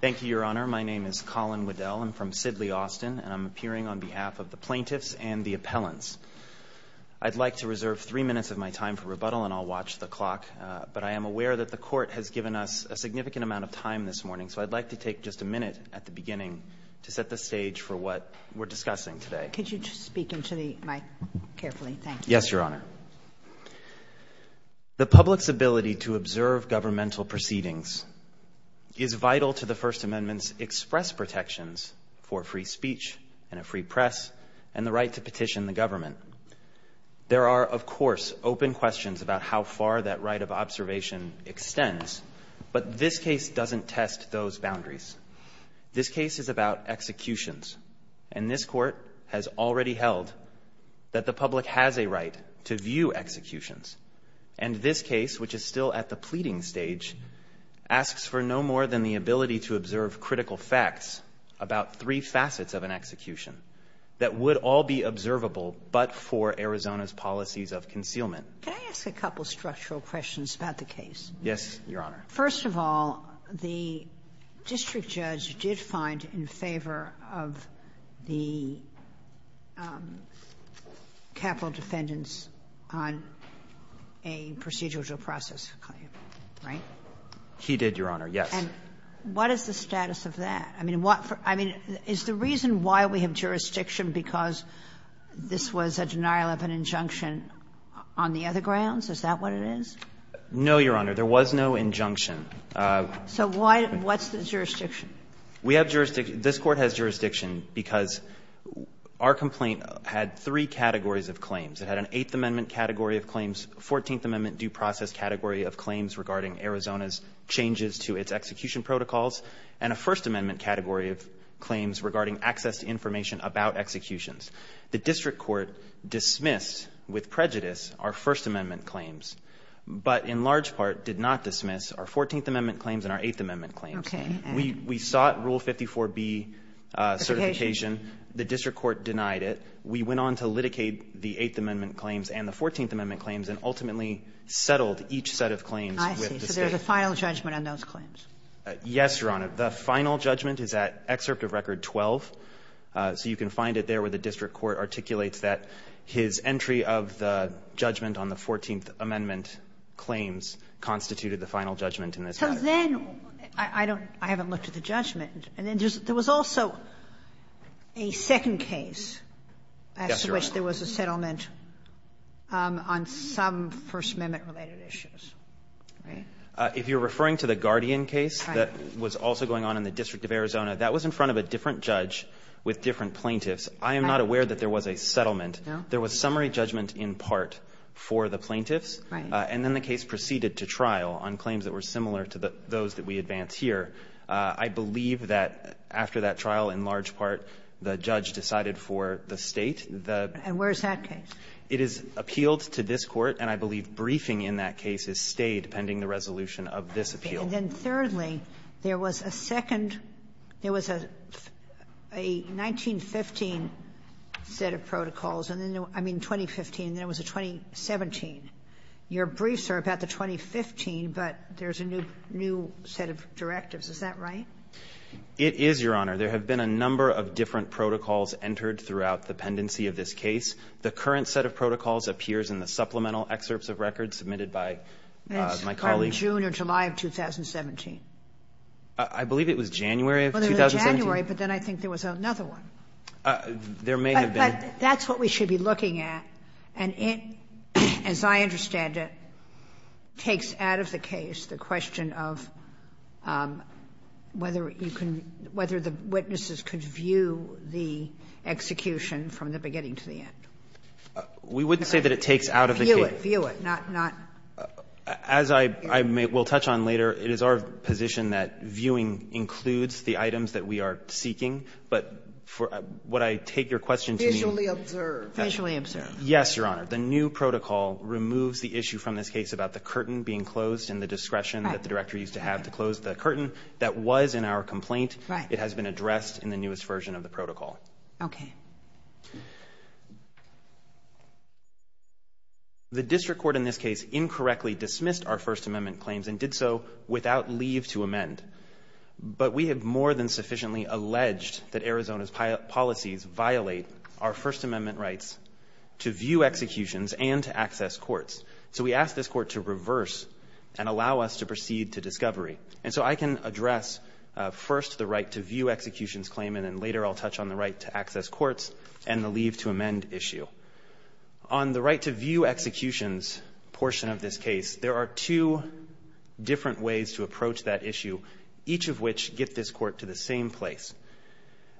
Thank you, Your Honor. My name is Colin Waddell. I'm from Sidley, Austin, and I'm appearing on behalf of the plaintiffs and the appellants. I'd like to reserve three minutes of my time for rebuttal, and I'll watch the clock, but I am aware that the Court has given us a significant amount of time this morning, so I'd like to take just a minute at the beginning to set the stage for what we're discussing today. Could you speak into the mic carefully? Thank you. Yes, Your Honor. The public's ability to observe governmental proceedings is vital to the First Amendment's express protections for free speech and a free press and the right to petition the government. There are, of course, open questions about how far that right of observation extends, but this case doesn't test those boundaries. This case is about executions, and this Court has already held that the public has a right to view executions. And this case, which is still at the pleading stage, asks for no more than the ability to observe critical facts about three facets of an execution that would all be observable but for Arizona's policies of concealment. Can I ask a couple structural questions about the case? Yes, Your Honor. First of all, the district judge did find in favor of the capital defendants on a procedural due process claim, right? He did, Your Honor, yes. And what is the status of that? I mean, what for – I mean, is the reason why we have jurisdiction because this was a denial of an injunction on the other grounds? Is that what it is? No, Your Honor. There was no injunction. So why – what's the jurisdiction? We have jurisdiction. This Court has jurisdiction because our complaint had three categories of claims. It had an Eighth Amendment category of claims, a Fourteenth Amendment due process category of claims regarding Arizona's changes to its execution protocols, and a First Amendment category of claims regarding access to information about executions. The district court dismissed with prejudice our First Amendment claims, but in large part did not dismiss our Fourteenth Amendment claims and our Eighth Amendment claims. Okay. We sought Rule 54B certification. The district court denied it. We went on to litigate the Eighth Amendment claims and the Fourteenth Amendment claims and ultimately settled each set of claims with the State. I see. So there's a final judgment on those claims. Yes, Your Honor. The final judgment is at excerpt of Record 12. So you can find it there where the district court articulates that his entry of the Fourteenth Amendment claims constituted the final judgment in this matter. So then I don't – I haven't looked at the judgment. And then there was also a second case as to which there was a settlement on some First Amendment-related issues, right? If you're referring to the Guardian case that was also going on in the District of Arizona, that was in front of a different judge with different plaintiffs. I am not aware that there was a settlement. No. There was summary judgment in part for the plaintiffs. Right. And then the case proceeded to trial on claims that were similar to those that we advance here. I believe that after that trial, in large part, the judge decided for the State the – And where's that case? It is appealed to this Court, and I believe briefing in that case is stayed pending the resolution of this appeal. And then thirdly, there was a second – there was a 1915 set of protocols, and then – I mean, 2015, and then there was a 2017. Your briefs are about the 2015, but there's a new set of directives. Is that right? It is, Your Honor. There have been a number of different protocols entered throughout the pendency of this case. The current set of protocols appears in the supplemental excerpts of records submitted by my colleague. That's from June or July of 2017. I believe it was January of 2017. Well, there was a January, but then I think there was another one. There may have been. But that's what we should be looking at, and it, as I understand it, takes out of the case the question of whether you can – whether the witnesses could view the execution from the beginning to the end. We wouldn't say that it takes out of the case. View it. View it, not – As I will touch on later, it is our position that viewing includes the items that we are seeking. But for – would I take your question to the – Visually observed. Visually observed. Yes, Your Honor. The new protocol removes the issue from this case about the curtain being closed and the discretion that the director used to have to close the curtain. That was in our complaint. Right. It has been addressed in the newest version of the protocol. Okay. The district court in this case incorrectly dismissed our First Amendment claims and did so without leave to amend. But we have more than sufficiently alleged that Arizona's policies violate our First Amendment rights to view executions and to access courts. So we ask this court to reverse and allow us to proceed to discovery. And so I can address first the right to view executions claim, and then later I'll touch on the right to access courts and the leave to amend issue. On the right to view executions portion of this case, there are two different ways to approach that issue, each of which get this court to the same place.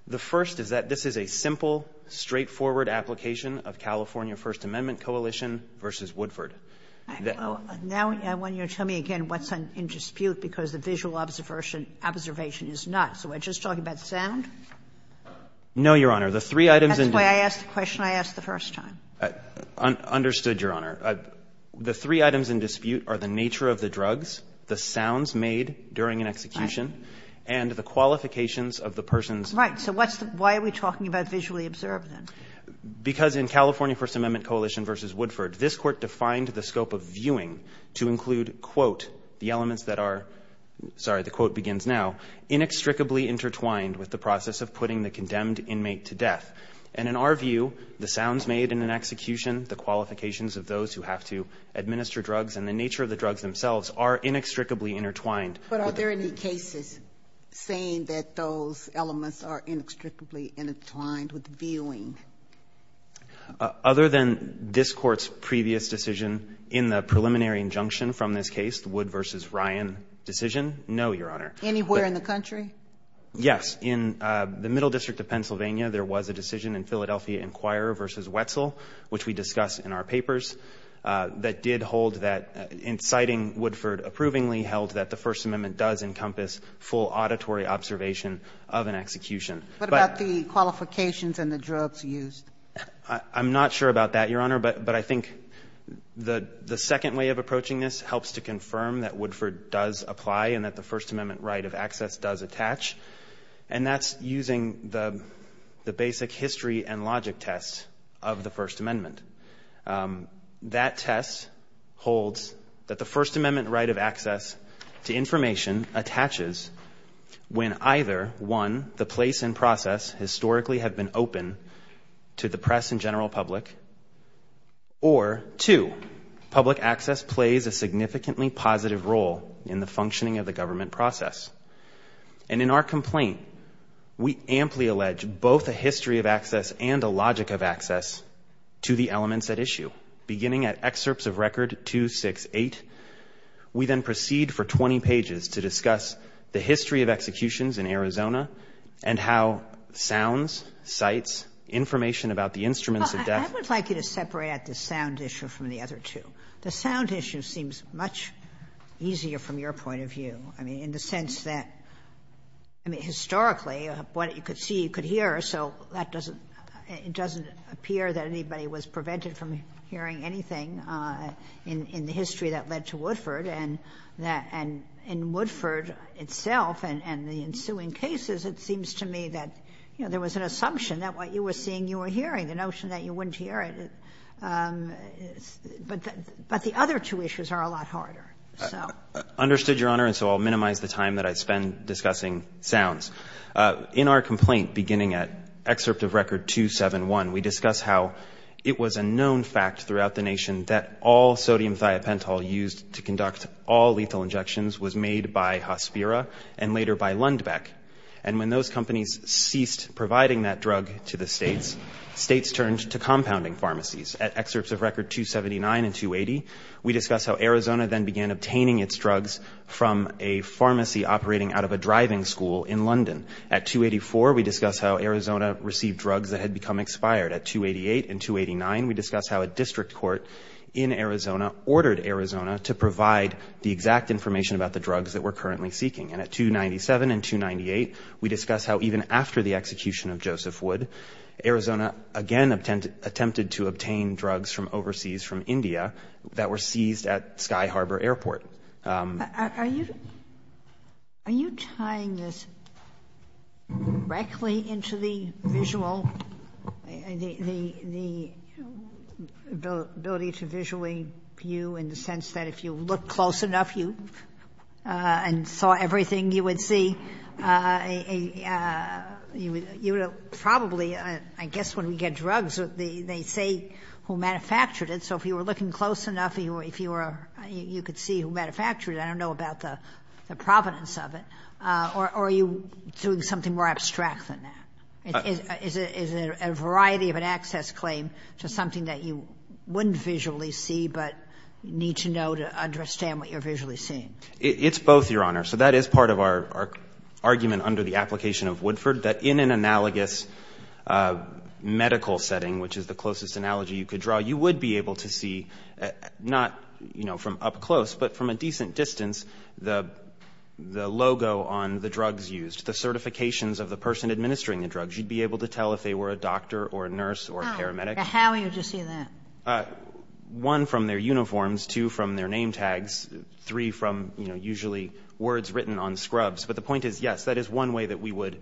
The first is that this is a simple, straightforward application of California First Amendment coalition versus Woodford. Now, I want you to tell me again what's in dispute because the visual observation is not. So we're just talking about sound? No, Your Honor. The three items in the – That's why I asked the question I asked the first time. Understood, Your Honor. The three items in dispute are the nature of the drugs, the sounds made during an execution, and the qualifications of the person's Right. So what's the – why are we talking about visually observed, then? Because in California First Amendment coalition versus Woodford, this court defined the scope of viewing to include, quote, the elements that are – sorry, the quote begins now – inextricably intertwined with the process of putting the condemned inmate to death. And in our view, the sounds made in an execution, the qualifications of those who have to administer drugs, and the nature of the drugs themselves are inextricably intertwined. But are there any cases saying that those elements are inextricably intertwined with viewing? Other than this Court's previous decision in the preliminary injunction from this case, the Wood versus Ryan decision, no, Your Honor. Anywhere in the country? Yes. In the Middle District of Pennsylvania, there was a decision in Philadelphia Inquirer versus Wetzel, which we discuss in our papers, that did hold that – inciting Woodford approvingly held that the First Amendment does encompass full auditory observation of an execution. But – What about the qualifications and the drugs used? I'm not sure about that, Your Honor, but I think the second way of approaching this helps to confirm that Woodford does apply and that the First Amendment right of access does attach. And that's using the basic history and logic test of the First Amendment. That test holds that the First Amendment right of access to information attaches when either, one, the place and process historically have been open to the press and general public, or, two, public access plays a significantly positive role in the functioning of the government process. And in our complaint, we amply allege both a history of access and a logic of access to the elements at issue. Beginning at excerpts of Record 268, we then proceed for 20 pages to discuss the history of executions in Arizona and how sounds, sights, information about the instruments of death – I would like you to separate out the sound issue from the other two. The sound issue seems much easier from your point of view. I mean, in the sense that, I mean, historically, what you could see, you could hear, so that doesn't – it doesn't appear that anybody was prevented from hearing anything in the history that led to Woodford. And in Woodford itself and the ensuing cases, it seems to me that, you know, there was an assumption that what you were seeing, you were hearing. The notion that you wouldn't hear it – but the other two issues are a lot harder. Understood, Your Honor, and so I'll minimize the time that I spend discussing sounds. In our complaint, beginning at excerpt of Record 271, we discuss how it was a known fact throughout the nation that all sodium thiopental used to conduct all lethal injections was made by Hospira and later by Lundbeck. And when those companies ceased providing that drug to the states, states turned to compounding pharmacies. At excerpts of Record 279 and 280, we discuss how Arizona then began obtaining its drugs from a pharmacy operating out of a driving school in London. At 284, we discuss how Arizona received drugs that had become expired. At 288 and 289, we discuss how a district court in Arizona ordered Arizona to provide the exact information about the drugs that we're currently seeking. And at 297 and 298, we discuss how even after the execution of Joseph Wood, Arizona again attempted to obtain drugs from overseas, from India, that were seized at Sky Harbor Airport. Are you tying this directly into the visual – the ability to visually view in the sense that if you look close enough and saw everything you would see, you would probably – I guess when we get drugs, they say who manufactured it. So if you were looking close enough, if you were – you could see who manufactured it, I don't know about the provenance of it. Or are you doing something more abstract than that? Is it a variety of an access claim to something that you wouldn't visually see but need to know to understand what you're visually seeing? It's both, Your Honor. So that is part of our argument under the application of Woodford, that in an analogous medical setting, which is the closest analogy you could draw, you would be able to see not from up close but from a decent distance the logo on the drugs used, the certifications of the person administering the drugs. You'd be able to tell if they were a doctor or a nurse or a paramedic. How would you see that? One, from their uniforms. Two, from their name tags. Three, from, you know, usually words written on scrubs. But the point is, yes, that is one way that we would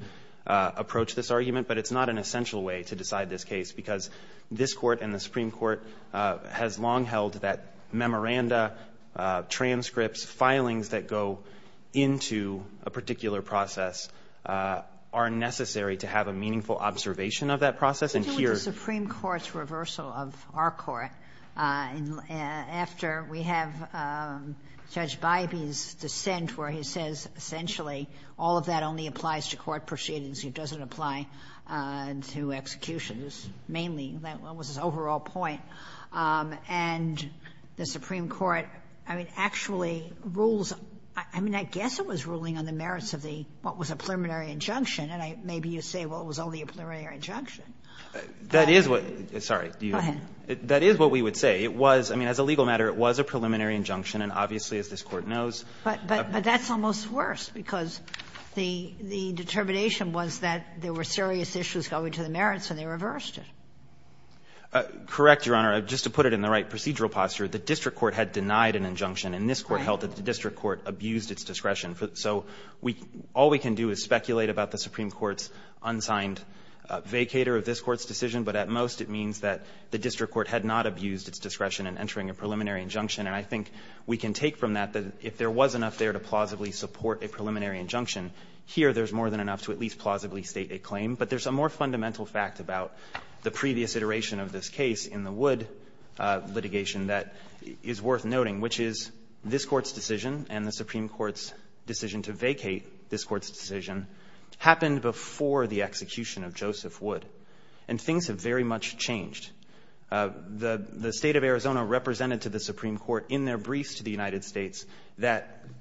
approach this argument, but it's not an essential way to decide this case, because this Court and the Supreme Court has long held that memoranda, transcripts, filings that go into a particular process are necessary to have a meaningful observation of that process. And here's the point. Sotomayor, I think it was the Supreme Court's reversal of our Court. After we have Judge Bybee's dissent where he says, essentially, all of that only applies to court proceedings. It doesn't apply to executions, mainly. That was his overall point. And the Supreme Court, I mean, actually rules – I mean, I guess it was ruling on the merits of the – what was a preliminary injunction, and maybe you say, well, it was only a preliminary injunction. That is what – sorry. Go ahead. That is what we would say. It was – I mean, as a legal matter, it was a preliminary injunction. And obviously, as this Court knows – But that's almost worse, because the determination was that there were serious issues going to the merits, and they reversed it. Correct, Your Honor. Just to put it in the right procedural posture, the district court had denied an injunction, and this Court held that the district court abused its discretion. So we – all we can do is speculate about the Supreme Court's unsigned vacator of this Court's decision, but at most it means that the district court had not abused its discretion in entering a preliminary injunction. And I think we can take from that that if there was enough there to plausibly support a preliminary injunction, here there's more than enough to at least plausibly state a claim. But there's a more fundamental fact about the previous iteration of this case in the Wood litigation that is worth noting, which is this Court's decision and the Supreme Court's decision to vacate this Court's decision happened before the execution of Joseph Wood. And things have very much changed. The State of Arizona represented to the Supreme Court in their briefs to the United States that –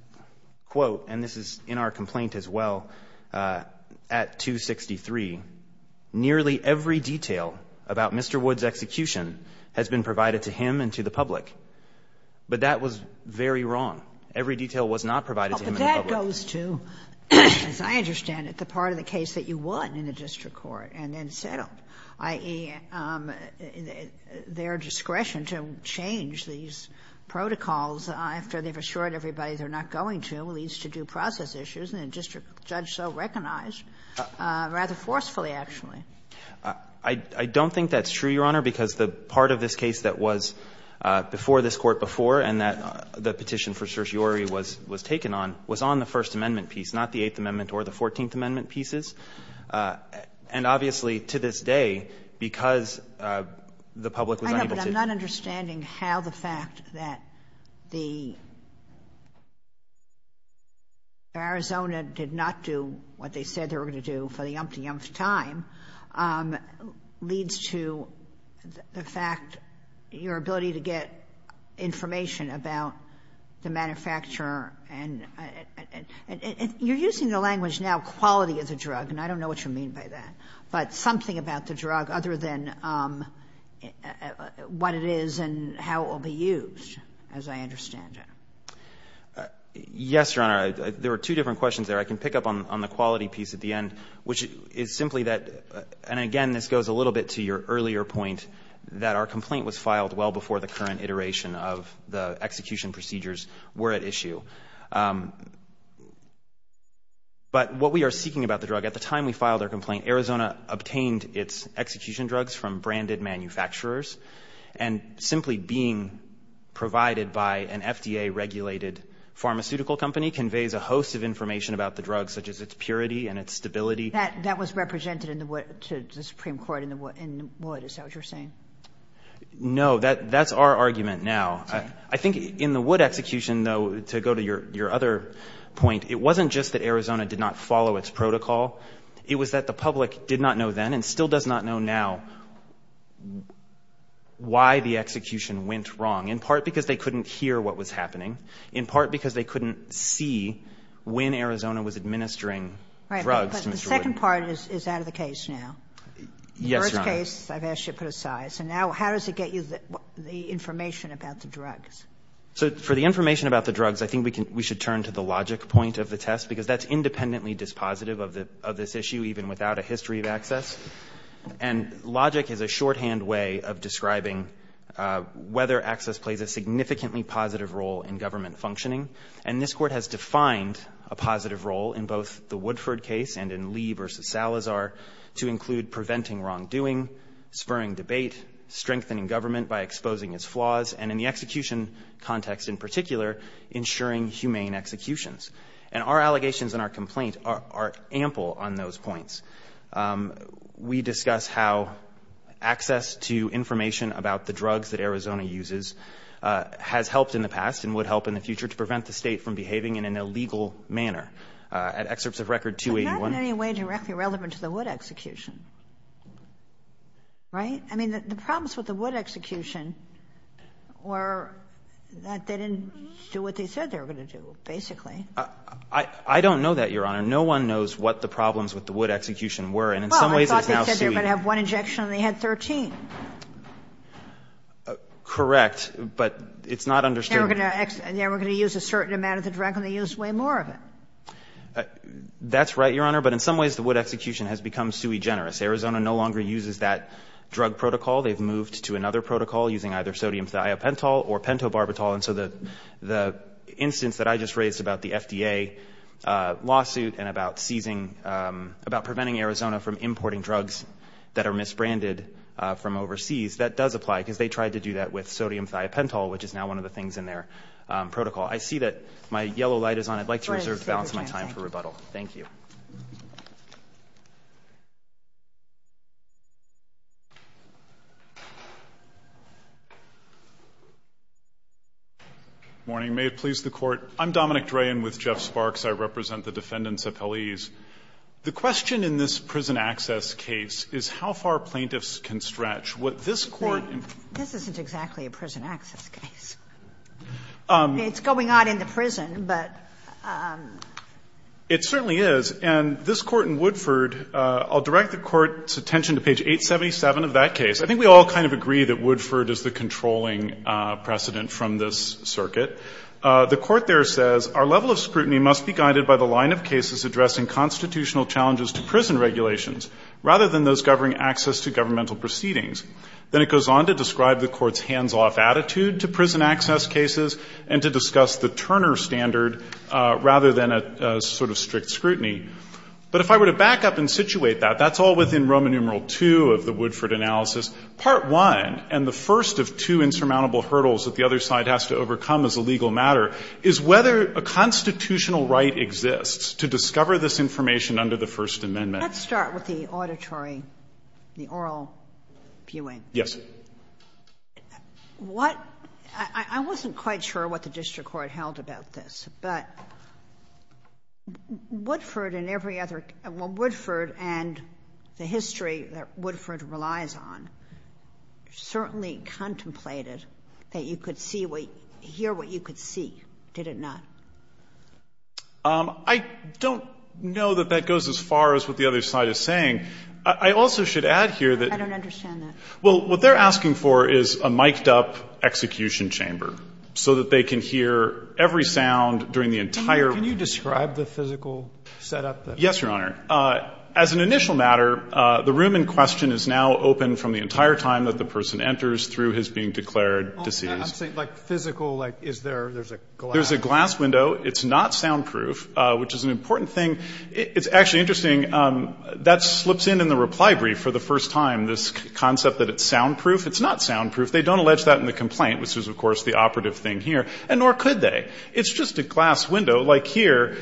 quote, and this is in our complaint as well, at 263, nearly every detail about Mr. Wood's execution has been provided to him and to the public. But that was very wrong. Every detail was not provided to him and the public. Kagan. But that goes to, as I understand it, the part of the case that you won in the district court and then settled, i.e., their discretion to change these protocols after they've assured everybody they're not going to leads to due process issues, and the district judge so recognized, rather forcefully, actually. I don't think that's true, Your Honor, because the part of this case that was before this Court before and that the petition for certiorari was taken on was on the First Amendment piece, not the Eighth Amendment or the Fourteenth Amendment pieces. And, obviously, to this day, because the public was unable to – I know, but I'm not understanding how the fact that the – Arizona did not do what they said they were going to do for the yumpty-yump time leads to the fact your ability to get information about the manufacturer and – you're using the language now, quality of the drug, and I don't know what you mean by that. But something about the drug other than what it is and how it will be used, as I understand it. Yes, Your Honor. There were two different questions there. I can pick up on the quality piece at the end, which is simply that – and, again, this goes a little bit to your earlier point that our complaint was filed well before the current iteration of the execution procedures were at issue. But what we are seeking about the drug – at the time we filed our complaint, Arizona obtained its execution drugs from branded manufacturers. And simply being provided by an FDA-regulated pharmaceutical company conveys a host of information about the drug, such as its purity and its stability. That was represented in the – to the Supreme Court in the – in the – is that what you're saying? No. That's our argument now. I think in the Wood execution, though, to go to your other point, it wasn't just that Arizona did not follow its protocol. It was that the public did not know then and still does not know now why the execution went wrong, in part because they couldn't hear what was happening, in part because they couldn't see when Arizona was administering drugs to Mr. Wood. But the second part is out of the case now. Yes, Your Honor. In the first case, I've asked you to put aside. So now how does it get you the information about the drugs? So for the information about the drugs, I think we should turn to the logic point of the test, because that's independently dispositive of this issue, even without a history of access. And logic is a shorthand way of describing whether access plays a significantly positive role in government functioning. And this Court has defined a positive role in both the Woodford case and in Lee v. Salazar to include preventing wrongdoing, spurring debate, strengthening government by exposing its flaws, and in the execution context in particular, ensuring humane executions. And our allegations and our complaint are ample on those points. We discuss how access to information about the drugs that Arizona uses has helped in the past and would help in the future to prevent the State from behaving in an illegal manner. At excerpts of Record 281. But that's in any way directly relevant to the Wood execution, right? I mean, the problems with the Wood execution were that they didn't do what they said they were going to do, basically. I don't know that, Your Honor. No one knows what the problems with the Wood execution were, and in some ways it's now suing. Well, I thought they said they were going to have one injection and they had 13. Correct. But it's not understood. Then we're going to use a certain amount of the drug and they use way more of it. That's right, Your Honor. But in some ways the Wood execution has become sui generis. Arizona no longer uses that drug protocol. They've moved to another protocol using either sodium thiopental or pentobarbital. And so the instance that I just raised about the FDA lawsuit and about seizing, about preventing Arizona from importing drugs that are misbranded from overseas, that does apply, because they tried to do that with sodium thiopental, which is now one of the things in their protocol. I see that my yellow light is on. I'd like to reserve to balance my time for rebuttal. Thank you. Good morning. May it please the Court. I'm Dominic Drayen with Jeff Sparks. I represent the defendants' appellees. The question in this prison access case is how far plaintiffs can stretch. Would this Court... This isn't exactly a prison access case. It's going on in the prison, but... It certainly is. And this Court in Woodford, I'll direct the Court's attention to page 877 of that case. I think we all kind of agree that Woodford is the controlling precedent from this circuit. The Court there says, Our level of scrutiny must be guided by the line of cases addressing constitutional challenges to prison regulations, rather than those governing access to governmental proceedings. Then it goes on to describe the Court's hands-off attitude to prison access cases and to discuss the Turner standard rather than a sort of strict scrutiny. But if I were to back up and situate that, that's all within Roman numeral 2 of the Woodford analysis. Part 1, and the first of two insurmountable hurdles that the other side has to overcome as a legal matter, is whether a constitutional right exists to discover this information under the First Amendment. Let's start with the auditory, the oral viewing. Yes. What... I wasn't quite sure what the district court held about this, but Woodford and every other... Well, Woodford and the history that Woodford relies on certainly contemplated that you could see what... hear what you could see. Did it not? I don't know that that goes as far as what the other side is saying. I also should add here that... I don't understand that. Well, what they're asking for is a miked-up execution chamber so that they can hear every sound during the entire... Can you describe the physical setup? Yes, Your Honor. As an initial matter, the room in question is now open from the entire time that the person enters through his being declared deceased. I'm saying like physical, like is there, there's a glass... window. It's not soundproof, which is an important thing. It's actually interesting. That slips in in the reply brief for the first time, this concept that it's soundproof. It's not soundproof. They don't allege that in the complaint, which is, of course, the operative thing here, and nor could they. It's just a glass window like here,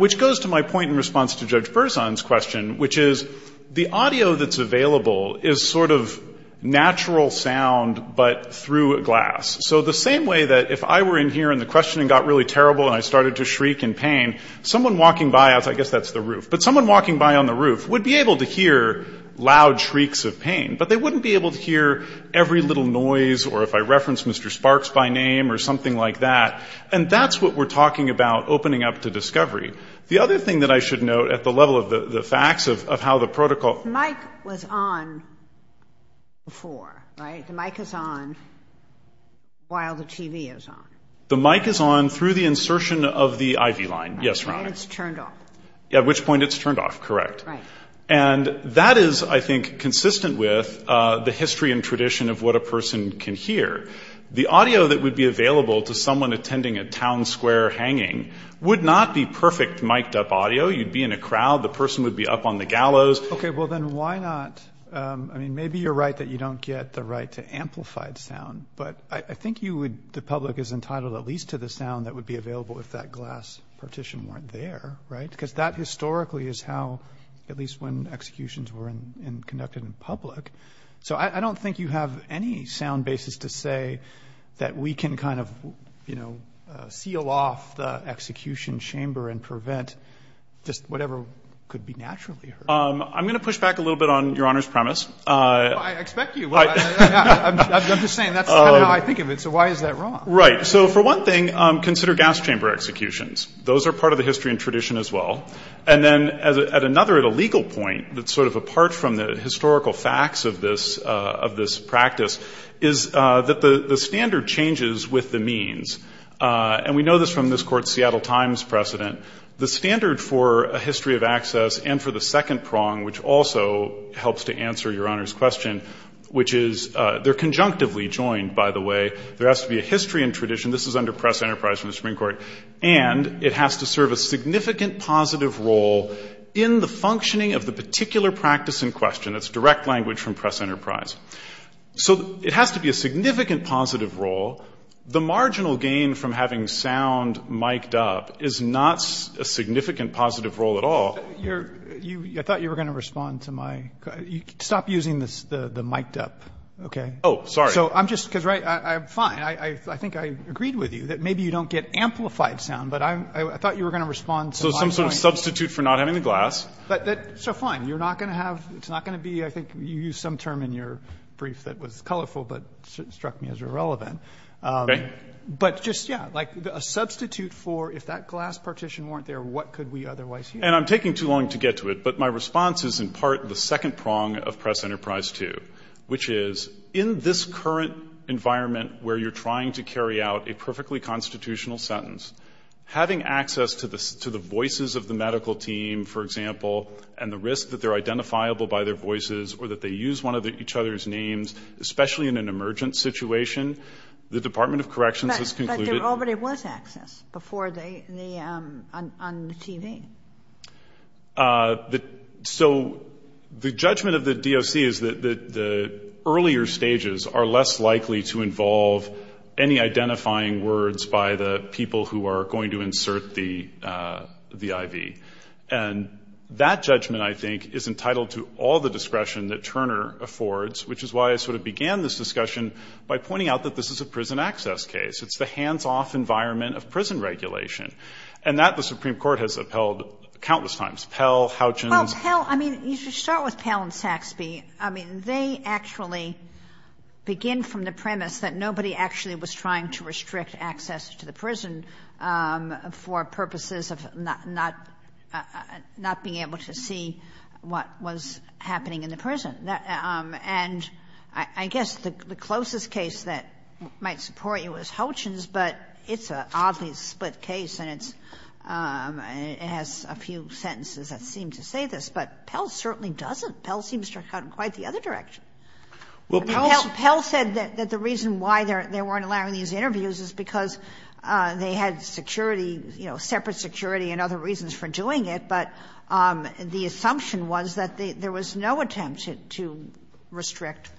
which goes to my point in response to Judge Berzon's question, which is the audio that's available is sort of natural sound, but through glass. So the same way that if I were in here and the questioning got really terrible and I started to shriek in pain, someone walking by, I guess that's the roof, but someone walking by on the roof would be able to hear loud shrieks of pain, but they wouldn't be able to hear every little noise or if I reference Mr. Sparks by name or something like that. And that's what we're talking about opening up to discovery. The other thing that I should note at the level of the facts of how the protocol... The mic was on before, right? The mic is on while the TV is on. The mic is on through the insertion of the IV line. Yes, Your Honor. And it's turned off. At which point it's turned off, correct. Right. And that is, I think, consistent with the history and tradition of what a person can hear. The audio that would be available to someone attending a town square hanging would not be perfect mic'd up audio. You'd be in a crowd. The person would be up on the gallows. Okay, well, then why not... Maybe you're right that you don't get the right to amplified sound, but I think the public is entitled at least to the sound that would be available if that glass partition weren't there, right? Because that historically is how, at least when executions were conducted in public. So I don't think you have any sound basis to say that we can seal off the execution chamber and prevent just whatever could be naturally heard. I'm going to push back a little bit on Your Honor's premise. I expect you. I'm just saying that's kind of how I think of it. So why is that wrong? Right. So for one thing, consider gas chamber executions. Those are part of the history and tradition as well. And then at another, at a legal point, that's sort of apart from the historical facts of this practice, is that the standard changes with the means. And we know this from this Court's Seattle Times precedent. The standard for a history of access and for the second prong, which also helps to answer Your Honor's question, which is they're conjunctively joined, by the way. There has to be a history and tradition. This is under Press Enterprise from the Supreme Court. And it has to serve a significant positive role in the functioning of the particular practice in question. That's direct language from Press Enterprise. So it has to be a significant positive role. The marginal gain from having sound mic'd up is not a significant positive role at all. I thought you were going to respond to my question. Stop using the mic'd up. Okay? Oh, sorry. Because I'm fine. I think I agreed with you that maybe you don't get amplified sound. But I thought you were going to respond to my question. So some sort of substitute for not having the glass. So fine. You're not going to have, it's not going to be, I think you used some term in your brief that was colorful but struck me as irrelevant. Okay. But just, yeah, like a substitute for if that glass partition weren't there, what could we otherwise use? And I'm taking too long to get to it. But my response is in part the second prong of Press Enterprise 2, which is in this current environment where you're trying to carry out a perfectly constitutional sentence, having access to the voices of the medical team, for example, and the risk that they're identifiable by their voices or that they use one of each other's names, especially in an emergent situation, the Department of Corrections has concluded But there already was access before on the TV. So the judgment of the DOC is that the earlier stages are less likely to involve any identifying words by the people who are going to insert the IV. And that judgment, I think, is entitled to all the discretion that by pointing out that this is a prison access case. It's the hands-off environment of prison regulation. And that the Supreme Court has upheld countless times. Pell, Houchins. Well, Pell, I mean, you should start with Pell and Saxby. I mean, they actually begin from the premise that nobody actually was trying to restrict access to the prison for purposes of not being able to see what was happening in the prison. And I guess the closest case that might support you is Houchins, but it's an oddly split case. And it has a few sentences that seem to say this. But Pell certainly doesn't. Pell seems to have gone quite the other direction. Pell said that the reason why they weren't allowing these interviews is because they had security, you know, separate security and other reasons for doing it. But the assumption was that there was no attempt to restrict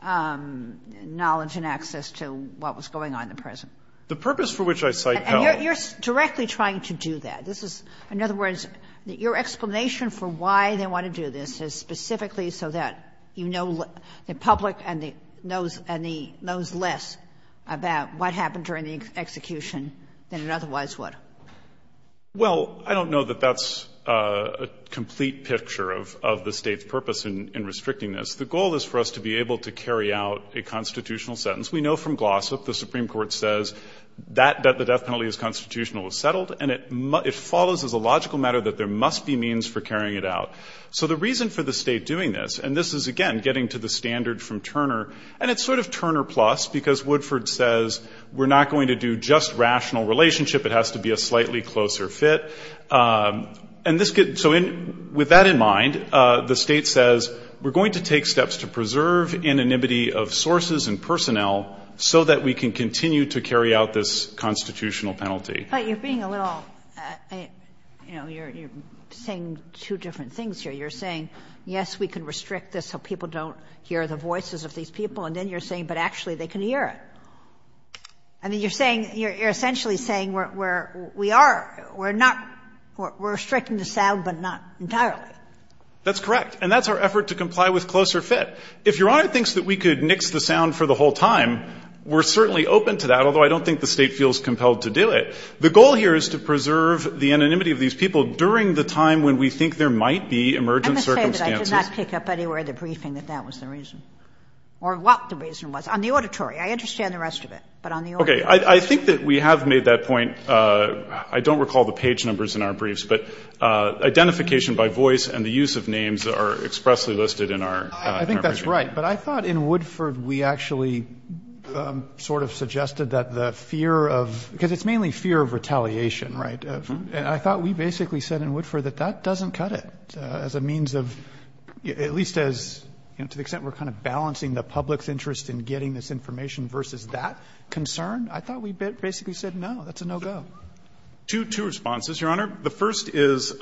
knowledge and access to what was going on in the prison. The purpose for which I cite Pell. And you're directly trying to do that. This is, in other words, your explanation for why they want to do this is specifically so that you know the public knows less about what happened during the execution than it otherwise would. Well, I don't know that that's a complete picture of the state's purpose in restricting this. The goal is for us to be able to carry out a constitutional sentence. We know from Glossop the Supreme Court says that the death penalty is constitutional, it's settled, and it follows as a logical matter that there must be means for carrying it out. So the reason for the state doing this, and this is, again, getting to the standard from Turner, and it's sort of Turner plus because Woodford says we're not going to do just rational relationship. It has to be a slightly closer fit. So with that in mind, the state says we're going to take steps to preserve anonymity of sources and personnel so that we can continue to carry out this constitutional penalty. But you're being a little, you know, you're saying two different things here. You're saying, yes, we can restrict this so people don't hear the voices of these people, and then you're saying, but actually they can hear it. I mean, you're saying, you're essentially saying we're, we are, we're not, we're restricting the sound, but not entirely. That's correct. And that's our effort to comply with closer fit. If Your Honor thinks that we could nix the sound for the whole time, we're certainly open to that, although I don't think the State feels compelled to do it. The goal here is to preserve the anonymity of these people during the time when we think there might be emergent circumstances. I must say that I could not pick up anywhere in the briefing that that was the reason or what the reason was. On the auditory, I understand the rest of it, but on the auditory. Okay. I think that we have made that point. I don't recall the page numbers in our briefs, but identification by voice and the use of names are expressly listed in our briefing. I think that's right, but I thought in Woodford we actually sort of suggested that the fear of, because it's mainly fear of retaliation, right? And I thought we basically said in Woodford that that doesn't cut it as a means of, at least as, you know, to the extent we're kind of balancing the public's interest in getting this information versus that concern, I thought we basically said no, that's a no-go. Two responses, Your Honor. The first is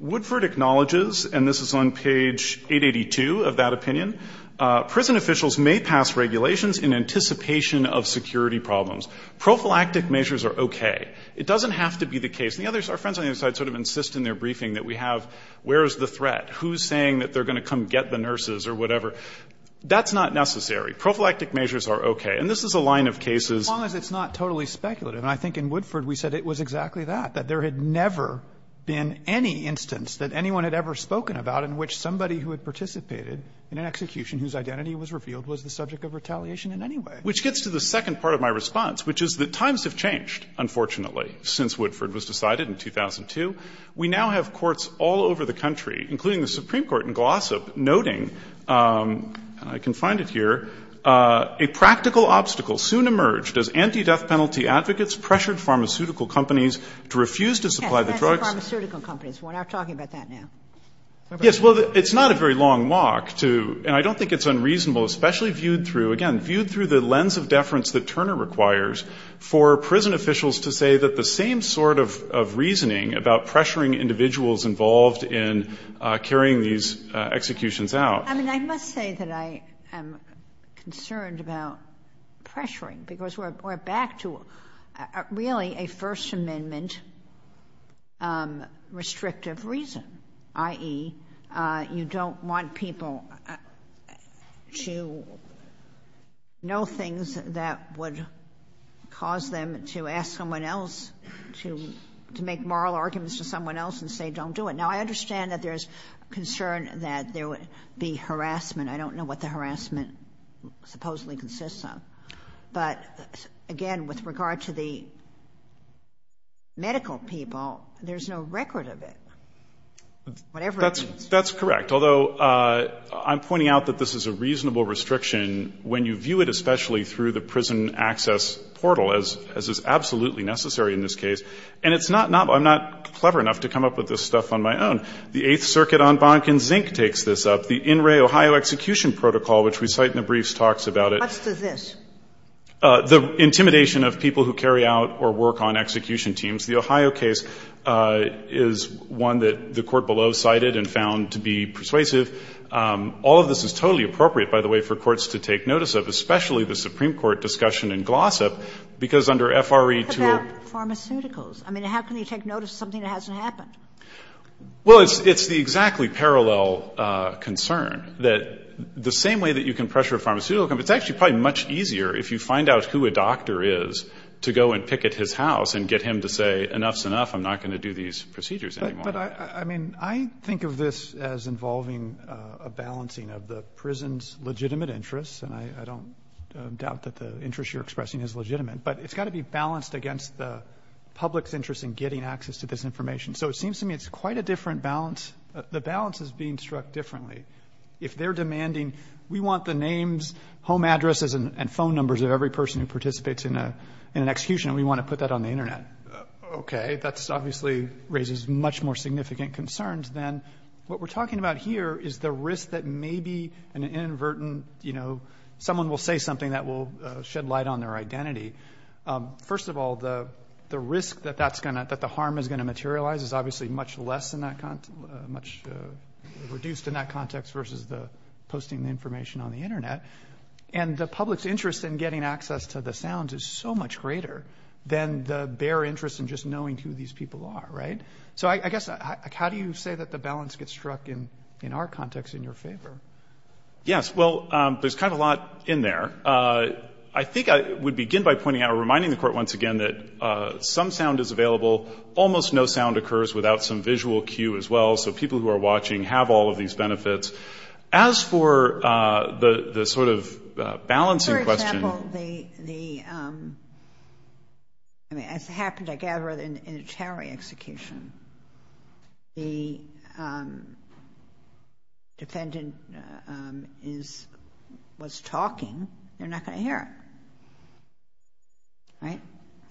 Woodford acknowledges, and this is on page 882 of that opinion, prison officials may pass regulations in anticipation of security problems. Prophylactic measures are okay. It doesn't have to be the case. And the others, our friends on the other side sort of insist in their briefing that we have where is the threat, who's saying that they're going to come get the nurses or whatever. That's not necessary. Prophylactic measures are okay. And this is a line of cases. But as long as it's not totally speculative, and I think in Woodford we said it was exactly that, that there had never been any instance that anyone had ever spoken about in which somebody who had participated in an execution whose identity was revealed was the subject of retaliation in any way. Which gets to the second part of my response, which is that times have changed, unfortunately, since Woodford was decided in 2002. We now have courts all over the country, including the Supreme Court in Glossop, noting, I can find it here, a practical obstacle soon emerged as anti-death penalty advocates pressured pharmaceutical companies to refuse to supply the drugs. Yes, pharmaceutical companies. We're not talking about that now. Yes, well, it's not a very long walk to, and I don't think it's unreasonable, especially viewed through, again, viewed through the lens of deference that Turner requires for prison officials to say that the same sort of reasoning about pressuring individuals involved in carrying these executions out. I mean, I must say that I am concerned about pressuring, because we're back to really a First Amendment restrictive reason, i.e., you don't want people to know things that would cause them to ask someone else to make moral arguments to someone else and say, don't do it. Now, I understand that there's concern that there would be harassment. I don't know what the harassment supposedly consists of. But, again, with regard to the medical people, there's no record of it, whatever it is. That's correct, although I'm pointing out that this is a reasonable restriction when you view it especially through the prison access portal, as is absolutely necessary in this case. And I'm not clever enough to come up with this stuff on my own. The Eighth Circuit en banc in zinc takes this up. The in re Ohio execution protocol, which we cite in the briefs, talks about it. What's the this? The intimidation of people who carry out or work on execution teams. The Ohio case is one that the court below cited and found to be persuasive. All of this is totally appropriate, by the way, for courts to take notice of, especially the Supreme Court discussion and glossop, because under F.R.E. How about pharmaceuticals? I mean, how can you take notice of something that hasn't happened? Well, it's the exactly parallel concern, that the same way that you can pressure a pharmaceutical company, it's actually probably much easier if you find out who a doctor is to go and picket his house and get him to say, enough's enough. I'm not going to do these procedures anymore. But I mean, I think of this as involving a balancing of the prison's legitimate interests, and I don't doubt that the interest you're expressing is legitimate, but it's got to be balanced against the public's interest in getting access to this information. So it seems to me it's quite a different balance. The balance is being struck differently. If they're demanding, we want the names, home addresses, and phone numbers of every person who participates in an execution, and we want to put that on the Internet. Okay, that obviously raises much more significant concerns than what we're talking about here is the risk that maybe an inadvertent, you know, someone will say something that will shed light on their identity. First of all, the risk that the harm is going to materialize is obviously much less in that context, much reduced in that context versus the posting the information on the Internet. And the public's interest in getting access to the sounds is so much greater than the bare interest in just knowing who these people are, right? So I guess, how do you say that the balance gets struck in our context in your favor? Yes, well, there's kind of a lot in there. I think I would begin by pointing out or reminding the Court once again that some sound is available. Almost no sound occurs without some visual cue as well. So people who are watching have all of these benefits. As for the sort of balancing question... I mean, as happened, I gather, in a towering execution, the defendant was talking. You're not going to hear it,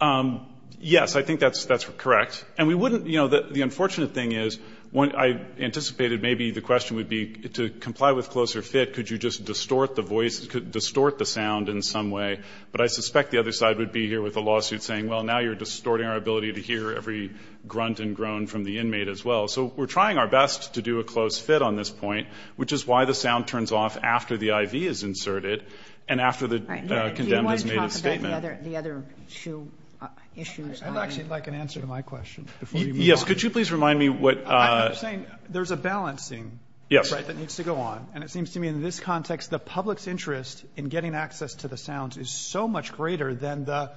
right? Yes, I think that's correct. And we wouldn't, you know, the unfortunate thing is when I anticipated maybe the question would be to comply with CloserFit, could you just distort the voice, distort the sound in some way? But I suspect the other side would be here with a lawsuit saying, well, now you're distorting our ability to hear every grunt and groan from the inmate as well. So we're trying our best to do a close fit on this point, which is why the sound turns off after the IV is inserted and after the condemned has made a statement. Do you want to talk about the other two issues? I'd actually like an answer to my question before you move on. Yes, could you please remind me what... I'm saying there's a balancing that needs to go on. And it seems to me in this context, the public's interest in getting access to the sounds is so much greater than the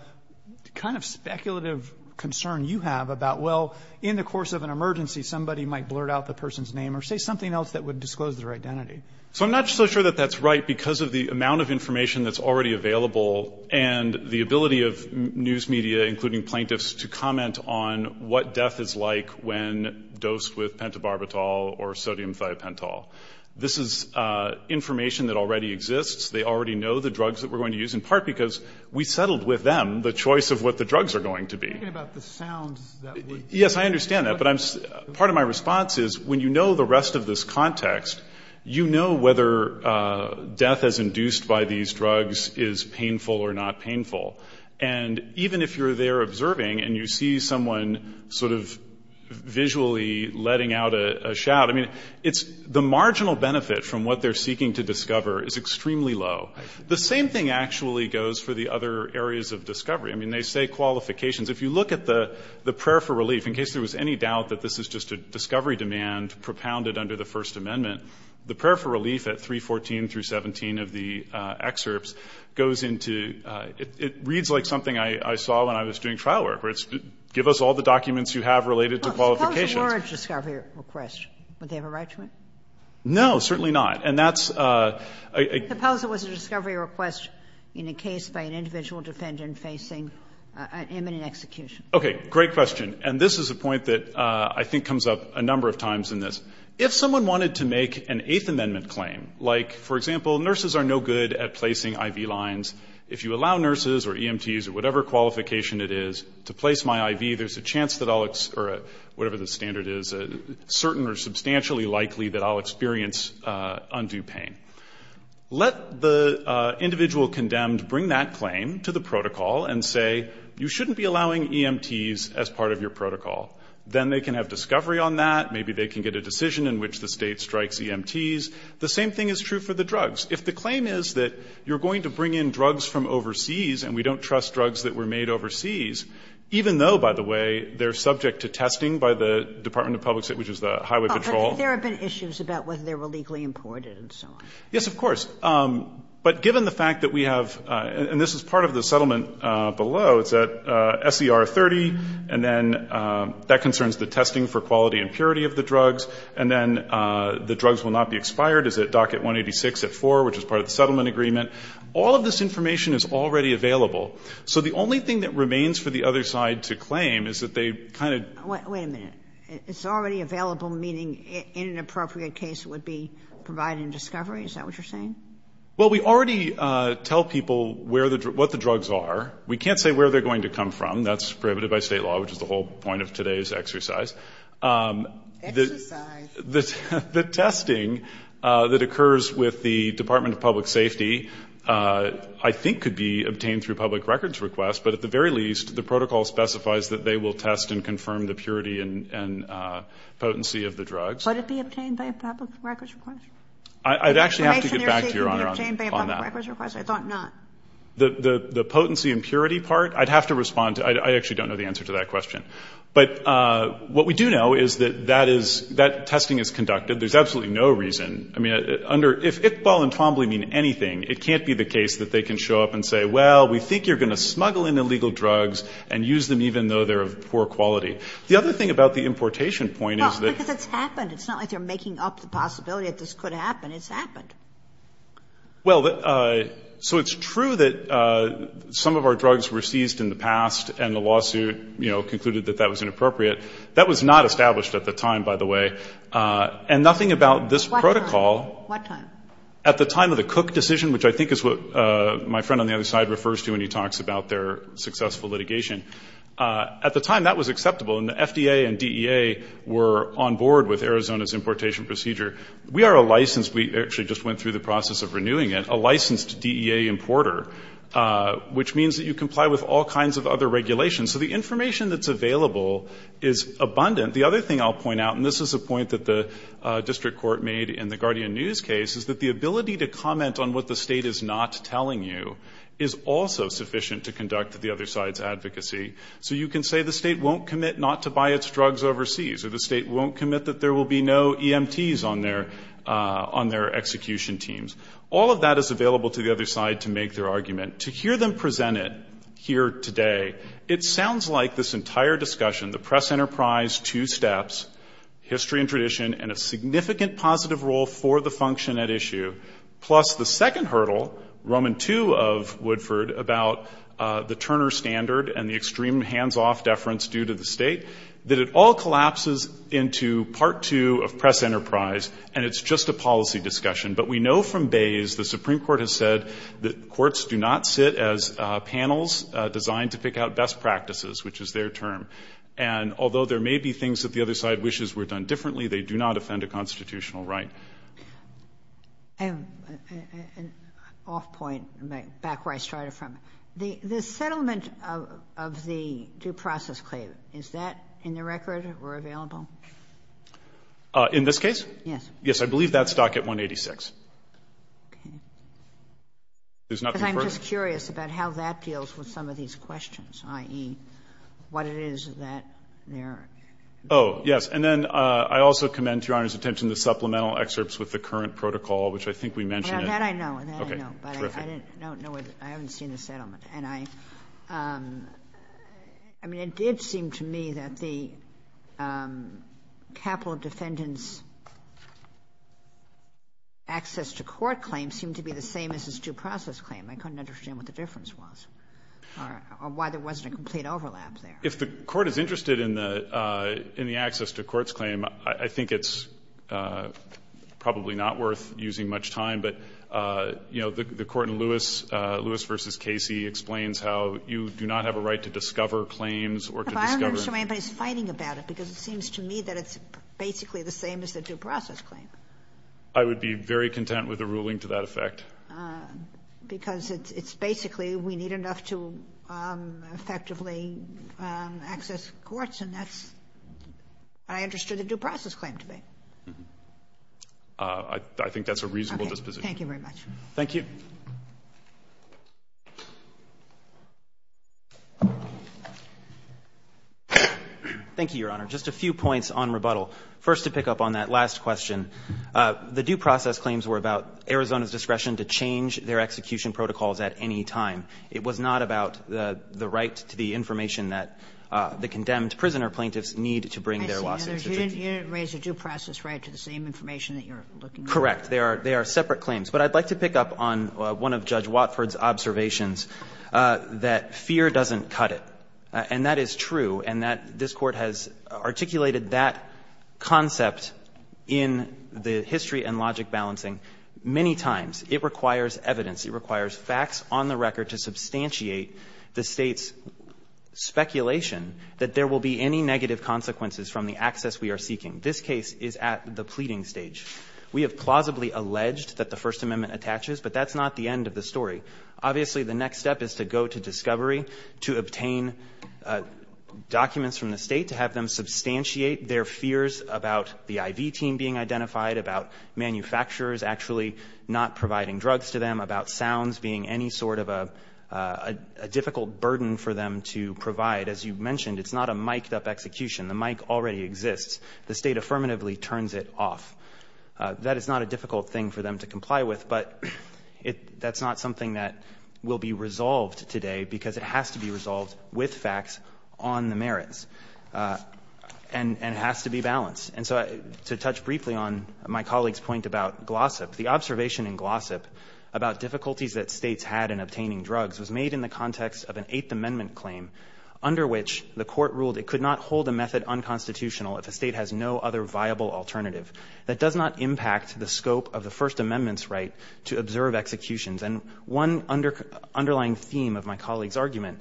kind of speculative concern you have about, well, in the course of an emergency, somebody might blurt out the person's name or say something else that would disclose their identity. So I'm not so sure that that's right because of the amount of information that's already available and the ability of news media, including plaintiffs, to comment on what death is like when dosed with pentobarbital or sodium thiopentol. This is information that already exists. They already know the drugs that we're going to use, in part because we settled with them the choice of what the drugs are going to be. You're talking about the sounds that would... Yes, I understand that. But part of my response is when you know the rest of this context, you know whether death as induced by these drugs is painful or not painful. And even if you're there observing and you see someone sort of visually letting out a shout, I mean, it's the marginal benefit from what they're seeking to discover is extremely low. The same thing actually goes for the other areas of discovery. I mean, they say qualifications. If you look at the prayer for relief, in case there was any doubt that this is just a discovery demand propounded under the First Amendment, the prayer for relief at 314 through 17 of the excerpts goes into... It reads like something I saw when I was doing trial work where it's give us all the documents you have related to qualifications. If the proposal were a discovery request, would they have a right to it? No, certainly not. And that's... If the proposal was a discovery request in a case by an individual defendant facing imminent execution. Okay, great question. And this is a point that I think comes up a number of times in this. If someone wanted to make an Eighth Amendment claim, like, for example, nurses are no good at placing IV lines. If you allow nurses or EMTs or whatever qualification it is to place my IV, there's a chance that I'll... Or whatever the standard is, a certain or substantially likely that I'll experience undue pain. Let the individual condemned bring that claim to the protocol and say, you shouldn't be allowing EMTs as part of your protocol. Then they can have discovery on that. Maybe they can get a decision in which the state strikes EMTs. The same thing is true for the drugs. If the claim is that you're going to bring in drugs from overseas and we don't trust drugs that were made overseas, even though, by the way, they're subject to testing by the Department of Public Safety, which is the Highway Patrol. But there have been issues about whether they were legally imported and so on. Yes, of course. But given the fact that we have... And this is part of the settlement below. It's at SER 30. And then that concerns the testing for quality and purity of the drugs. And then the drugs will not be expired. It's at Docket 186 at 4, which is part of the settlement agreement. All of this information is already available. So the only thing that remains for the other side to claim is that they kind of... Wait a minute. It's already available, meaning in an appropriate case, it would be provided in discovery? Is that what you're saying? Well, we already tell people what the drugs are. We can't say where they're going to come from. That's prohibited by state law, which is the whole point of today's exercise. Exercise. The testing that occurs with the Department of Public Safety, I think could be obtained through public records request. But at the very least, the protocol specifies that they will test and confirm the purity and potency of the drugs. Would it be obtained by a public records request? I'd actually have to get back to Your Honor on that. I thought not. The potency and purity part, I'd have to respond to... I actually don't know the answer to that question. But what we do know is that that testing is conducted. There's absolutely no reason. I mean, if Iqbal and Twombly mean anything, it can't be the case that they can show up and say, well, we think you're going to smuggle in illegal drugs and use them even though they're of poor quality. The other thing about the importation point is that... Well, because it's happened. It's not like they're making up the possibility that this could happen. It's happened. Well, so it's true that some of our drugs were seized in the past and the lawsuit concluded that that was inappropriate. That was not established at the time, by the way. And nothing about this protocol... What time? At the time of the Cook decision, which I think is what my friend on the other side refers to when he talks about their successful litigation. At the time, that was acceptable. And the FDA and DEA were on board with Arizona's importation procedure. We are a licensed... We actually just went through the process of renewing it. A licensed DEA importer, which means that you comply with all kinds of other regulations. So the information that's available is abundant. The other thing I'll point out, and this is a point that the district court made in the Guardian News case, is that the ability to comment on what the state is not telling you is also sufficient to conduct the other side's advocacy. So you can say the state won't commit not to buy its drugs overseas, or the state won't commit that there will be no EMTs on their execution teams. All of that is available to the other side to make their argument. To hear them present it here today, it sounds like this entire discussion, the press enterprise two steps, history and tradition, and a significant positive role for the function at issue, plus the second hurdle, Roman II of Woodford, about the Turner Standard and the extreme hands-off deference due to the state, that it all collapses into part two of press enterprise, and it's just a policy discussion. But we know from Bayes the Supreme Court has said that courts do not sit as panels designed to pick out best practices, which is their term. And although there may be things that the other side wishes were done differently, they do not offend a constitutional right. I have an off point, back where I started from. The settlement of the due process claim, is that in the record or available? In this case? Yes. Yes, I believe that's docket 186. Okay. There's nothing further? Because I'm just curious about how that deals with some of these questions, i.e., what it is that they're... Oh, yes. And then I also commend to Your Honor's attention the supplemental excerpts with the current protocol, which I think we mentioned. And that I know, and that I know. Okay, terrific. But I don't know, I haven't seen the settlement. And I, I mean, it did seem to me that the capital defendant's access to court claim seemed to be the same as his due process claim. I couldn't understand what the difference was, or why there wasn't a complete overlap there. If the court is interested in the access to courts claim, I think it's probably not worth using much time. But, you know, the court in Lewis, Lewis v. Casey, explains how you do not have a right to discover claims, or to discover... I'm not sure anybody's fighting about it, because it seems to me that it's basically the same as the due process claim. I would be very content with a ruling to that effect. Because it's, it's basically we need enough to effectively access courts, and that's, I understood the due process claim to be. I think that's a reasonable disposition. Okay, thank you very much. Thank you. Thank you, Your Honor. Just a few points on rebuttal. First, to pick up on that last question, the due process claims were about Arizona's discretion to change their execution protocols at any time. It was not about the, the right to the information that the condemned prisoner plaintiffs need to bring their lawsuits. You didn't raise the due process right to the same information that you're looking for. Correct. They are separate claims. But I'd like to pick up on one of Judge Watford's observations, that fear doesn't cut it. And that is true, and that this Court has articulated that concept in the history and logic balancing many times. It requires evidence. It requires facts on the record to substantiate the State's speculation that there will be any negative consequences from the access we are seeking. This case is at the pleading stage. We have plausibly alleged that the First Amendment attaches, but that's not the end of the story. Obviously, the next step is to go to discovery, to obtain documents from the State to have them substantiate their fears about the IV team being identified, about manufacturers actually not providing drugs to them, about sounds being any sort of a, a difficult burden for them to provide. As you mentioned, it's not a mic'd up execution. The mic already exists. The State affirmatively turns it off. That is not a difficult thing for them to comply with, but it, that's not something that will be resolved today, because it has to be resolved with facts on the merits. And, and it has to be balanced. And so, to touch briefly on my colleague's point about glossip, the observation in glossip about difficulties that States had in obtaining drugs was made in the manner under which the Court ruled it could not hold a method unconstitutional if a State has no other viable alternative. That does not impact the scope of the First Amendment's right to observe executions. And one underlying theme of my colleague's argument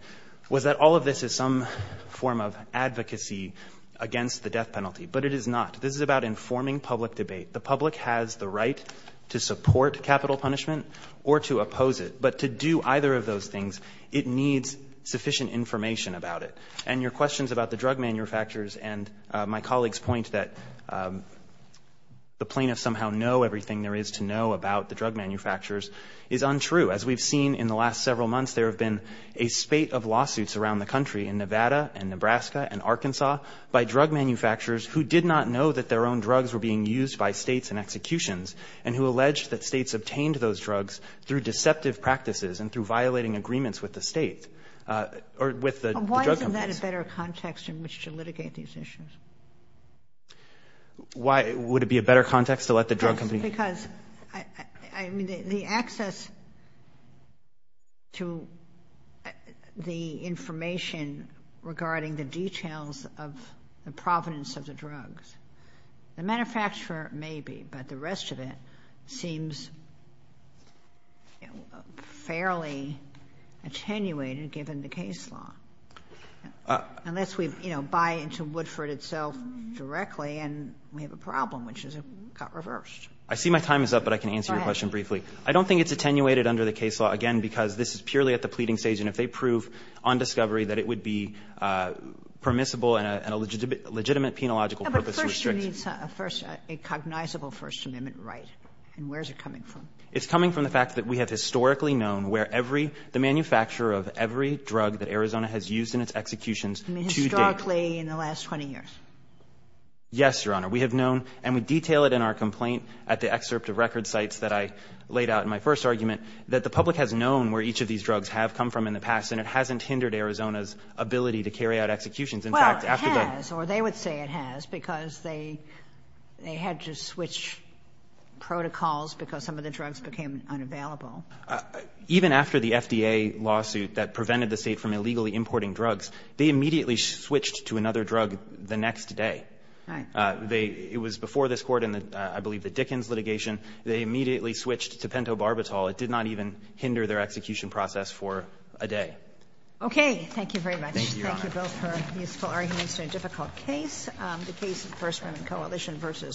was that all of this is some form of advocacy against the death penalty. But it is not. This is about informing public debate. The public has the right to support capital punishment or to oppose it. But to do either of those things, it needs sufficient information about it. And your questions about the drug manufacturers and my colleague's point that the plaintiffs somehow know everything there is to know about the drug manufacturers is untrue. As we've seen in the last several months, there have been a spate of lawsuits around the country in Nevada and Nebraska and Arkansas by drug manufacturers who did not know that their own drugs were being used by States in executions and who alleged that States obtained those drugs through deceptive practices and through violating agreements with the State or with the drug companies. Why isn't that a better context in which to litigate these issues? Why? Would it be a better context to let the drug companies? Because, I mean, the access to the information regarding the details of the provenance of the drugs. The manufacturer may be, but the rest of it seems fairly attenuated given the case law. Unless we, you know, buy into Woodford itself directly and we have a problem which is it got reversed. I see my time is up, but I can answer your question briefly. Go ahead. I don't think it's attenuated under the case law, again, because this is purely at the pleading stage. And if they prove on discovery that it would be permissible and a legitimate penological purpose to restrict. But first you need a cognizable First Amendment right. And where is it coming from? It's coming from the fact that we have historically known where every, the manufacturer of every drug that Arizona has used in its executions to date. You mean historically in the last 20 years? Yes, Your Honor. We have known, and we detail it in our complaint at the excerpt of record sites that I laid out in my first argument, that the public has known where each of these drugs have come from in the past and it hasn't hindered Arizona's ability to carry out executions. Well, it has, or they would say it has, because they had to switch protocols because some of the drugs became unavailable. Even after the FDA lawsuit that prevented the State from illegally importing drugs, they immediately switched to another drug the next day. Right. It was before this Court in, I believe, the Dickens litigation. They immediately switched to pentobarbital. It did not even hinder their execution process for a day. Okay. Thank you very much. Thank you, Your Honor. Thank you both for your useful arguments in a difficult case. The case of First Women Coalition v.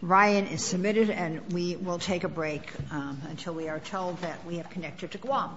Ryan is submitted and we will take a break until we are told that we have connected to Guam.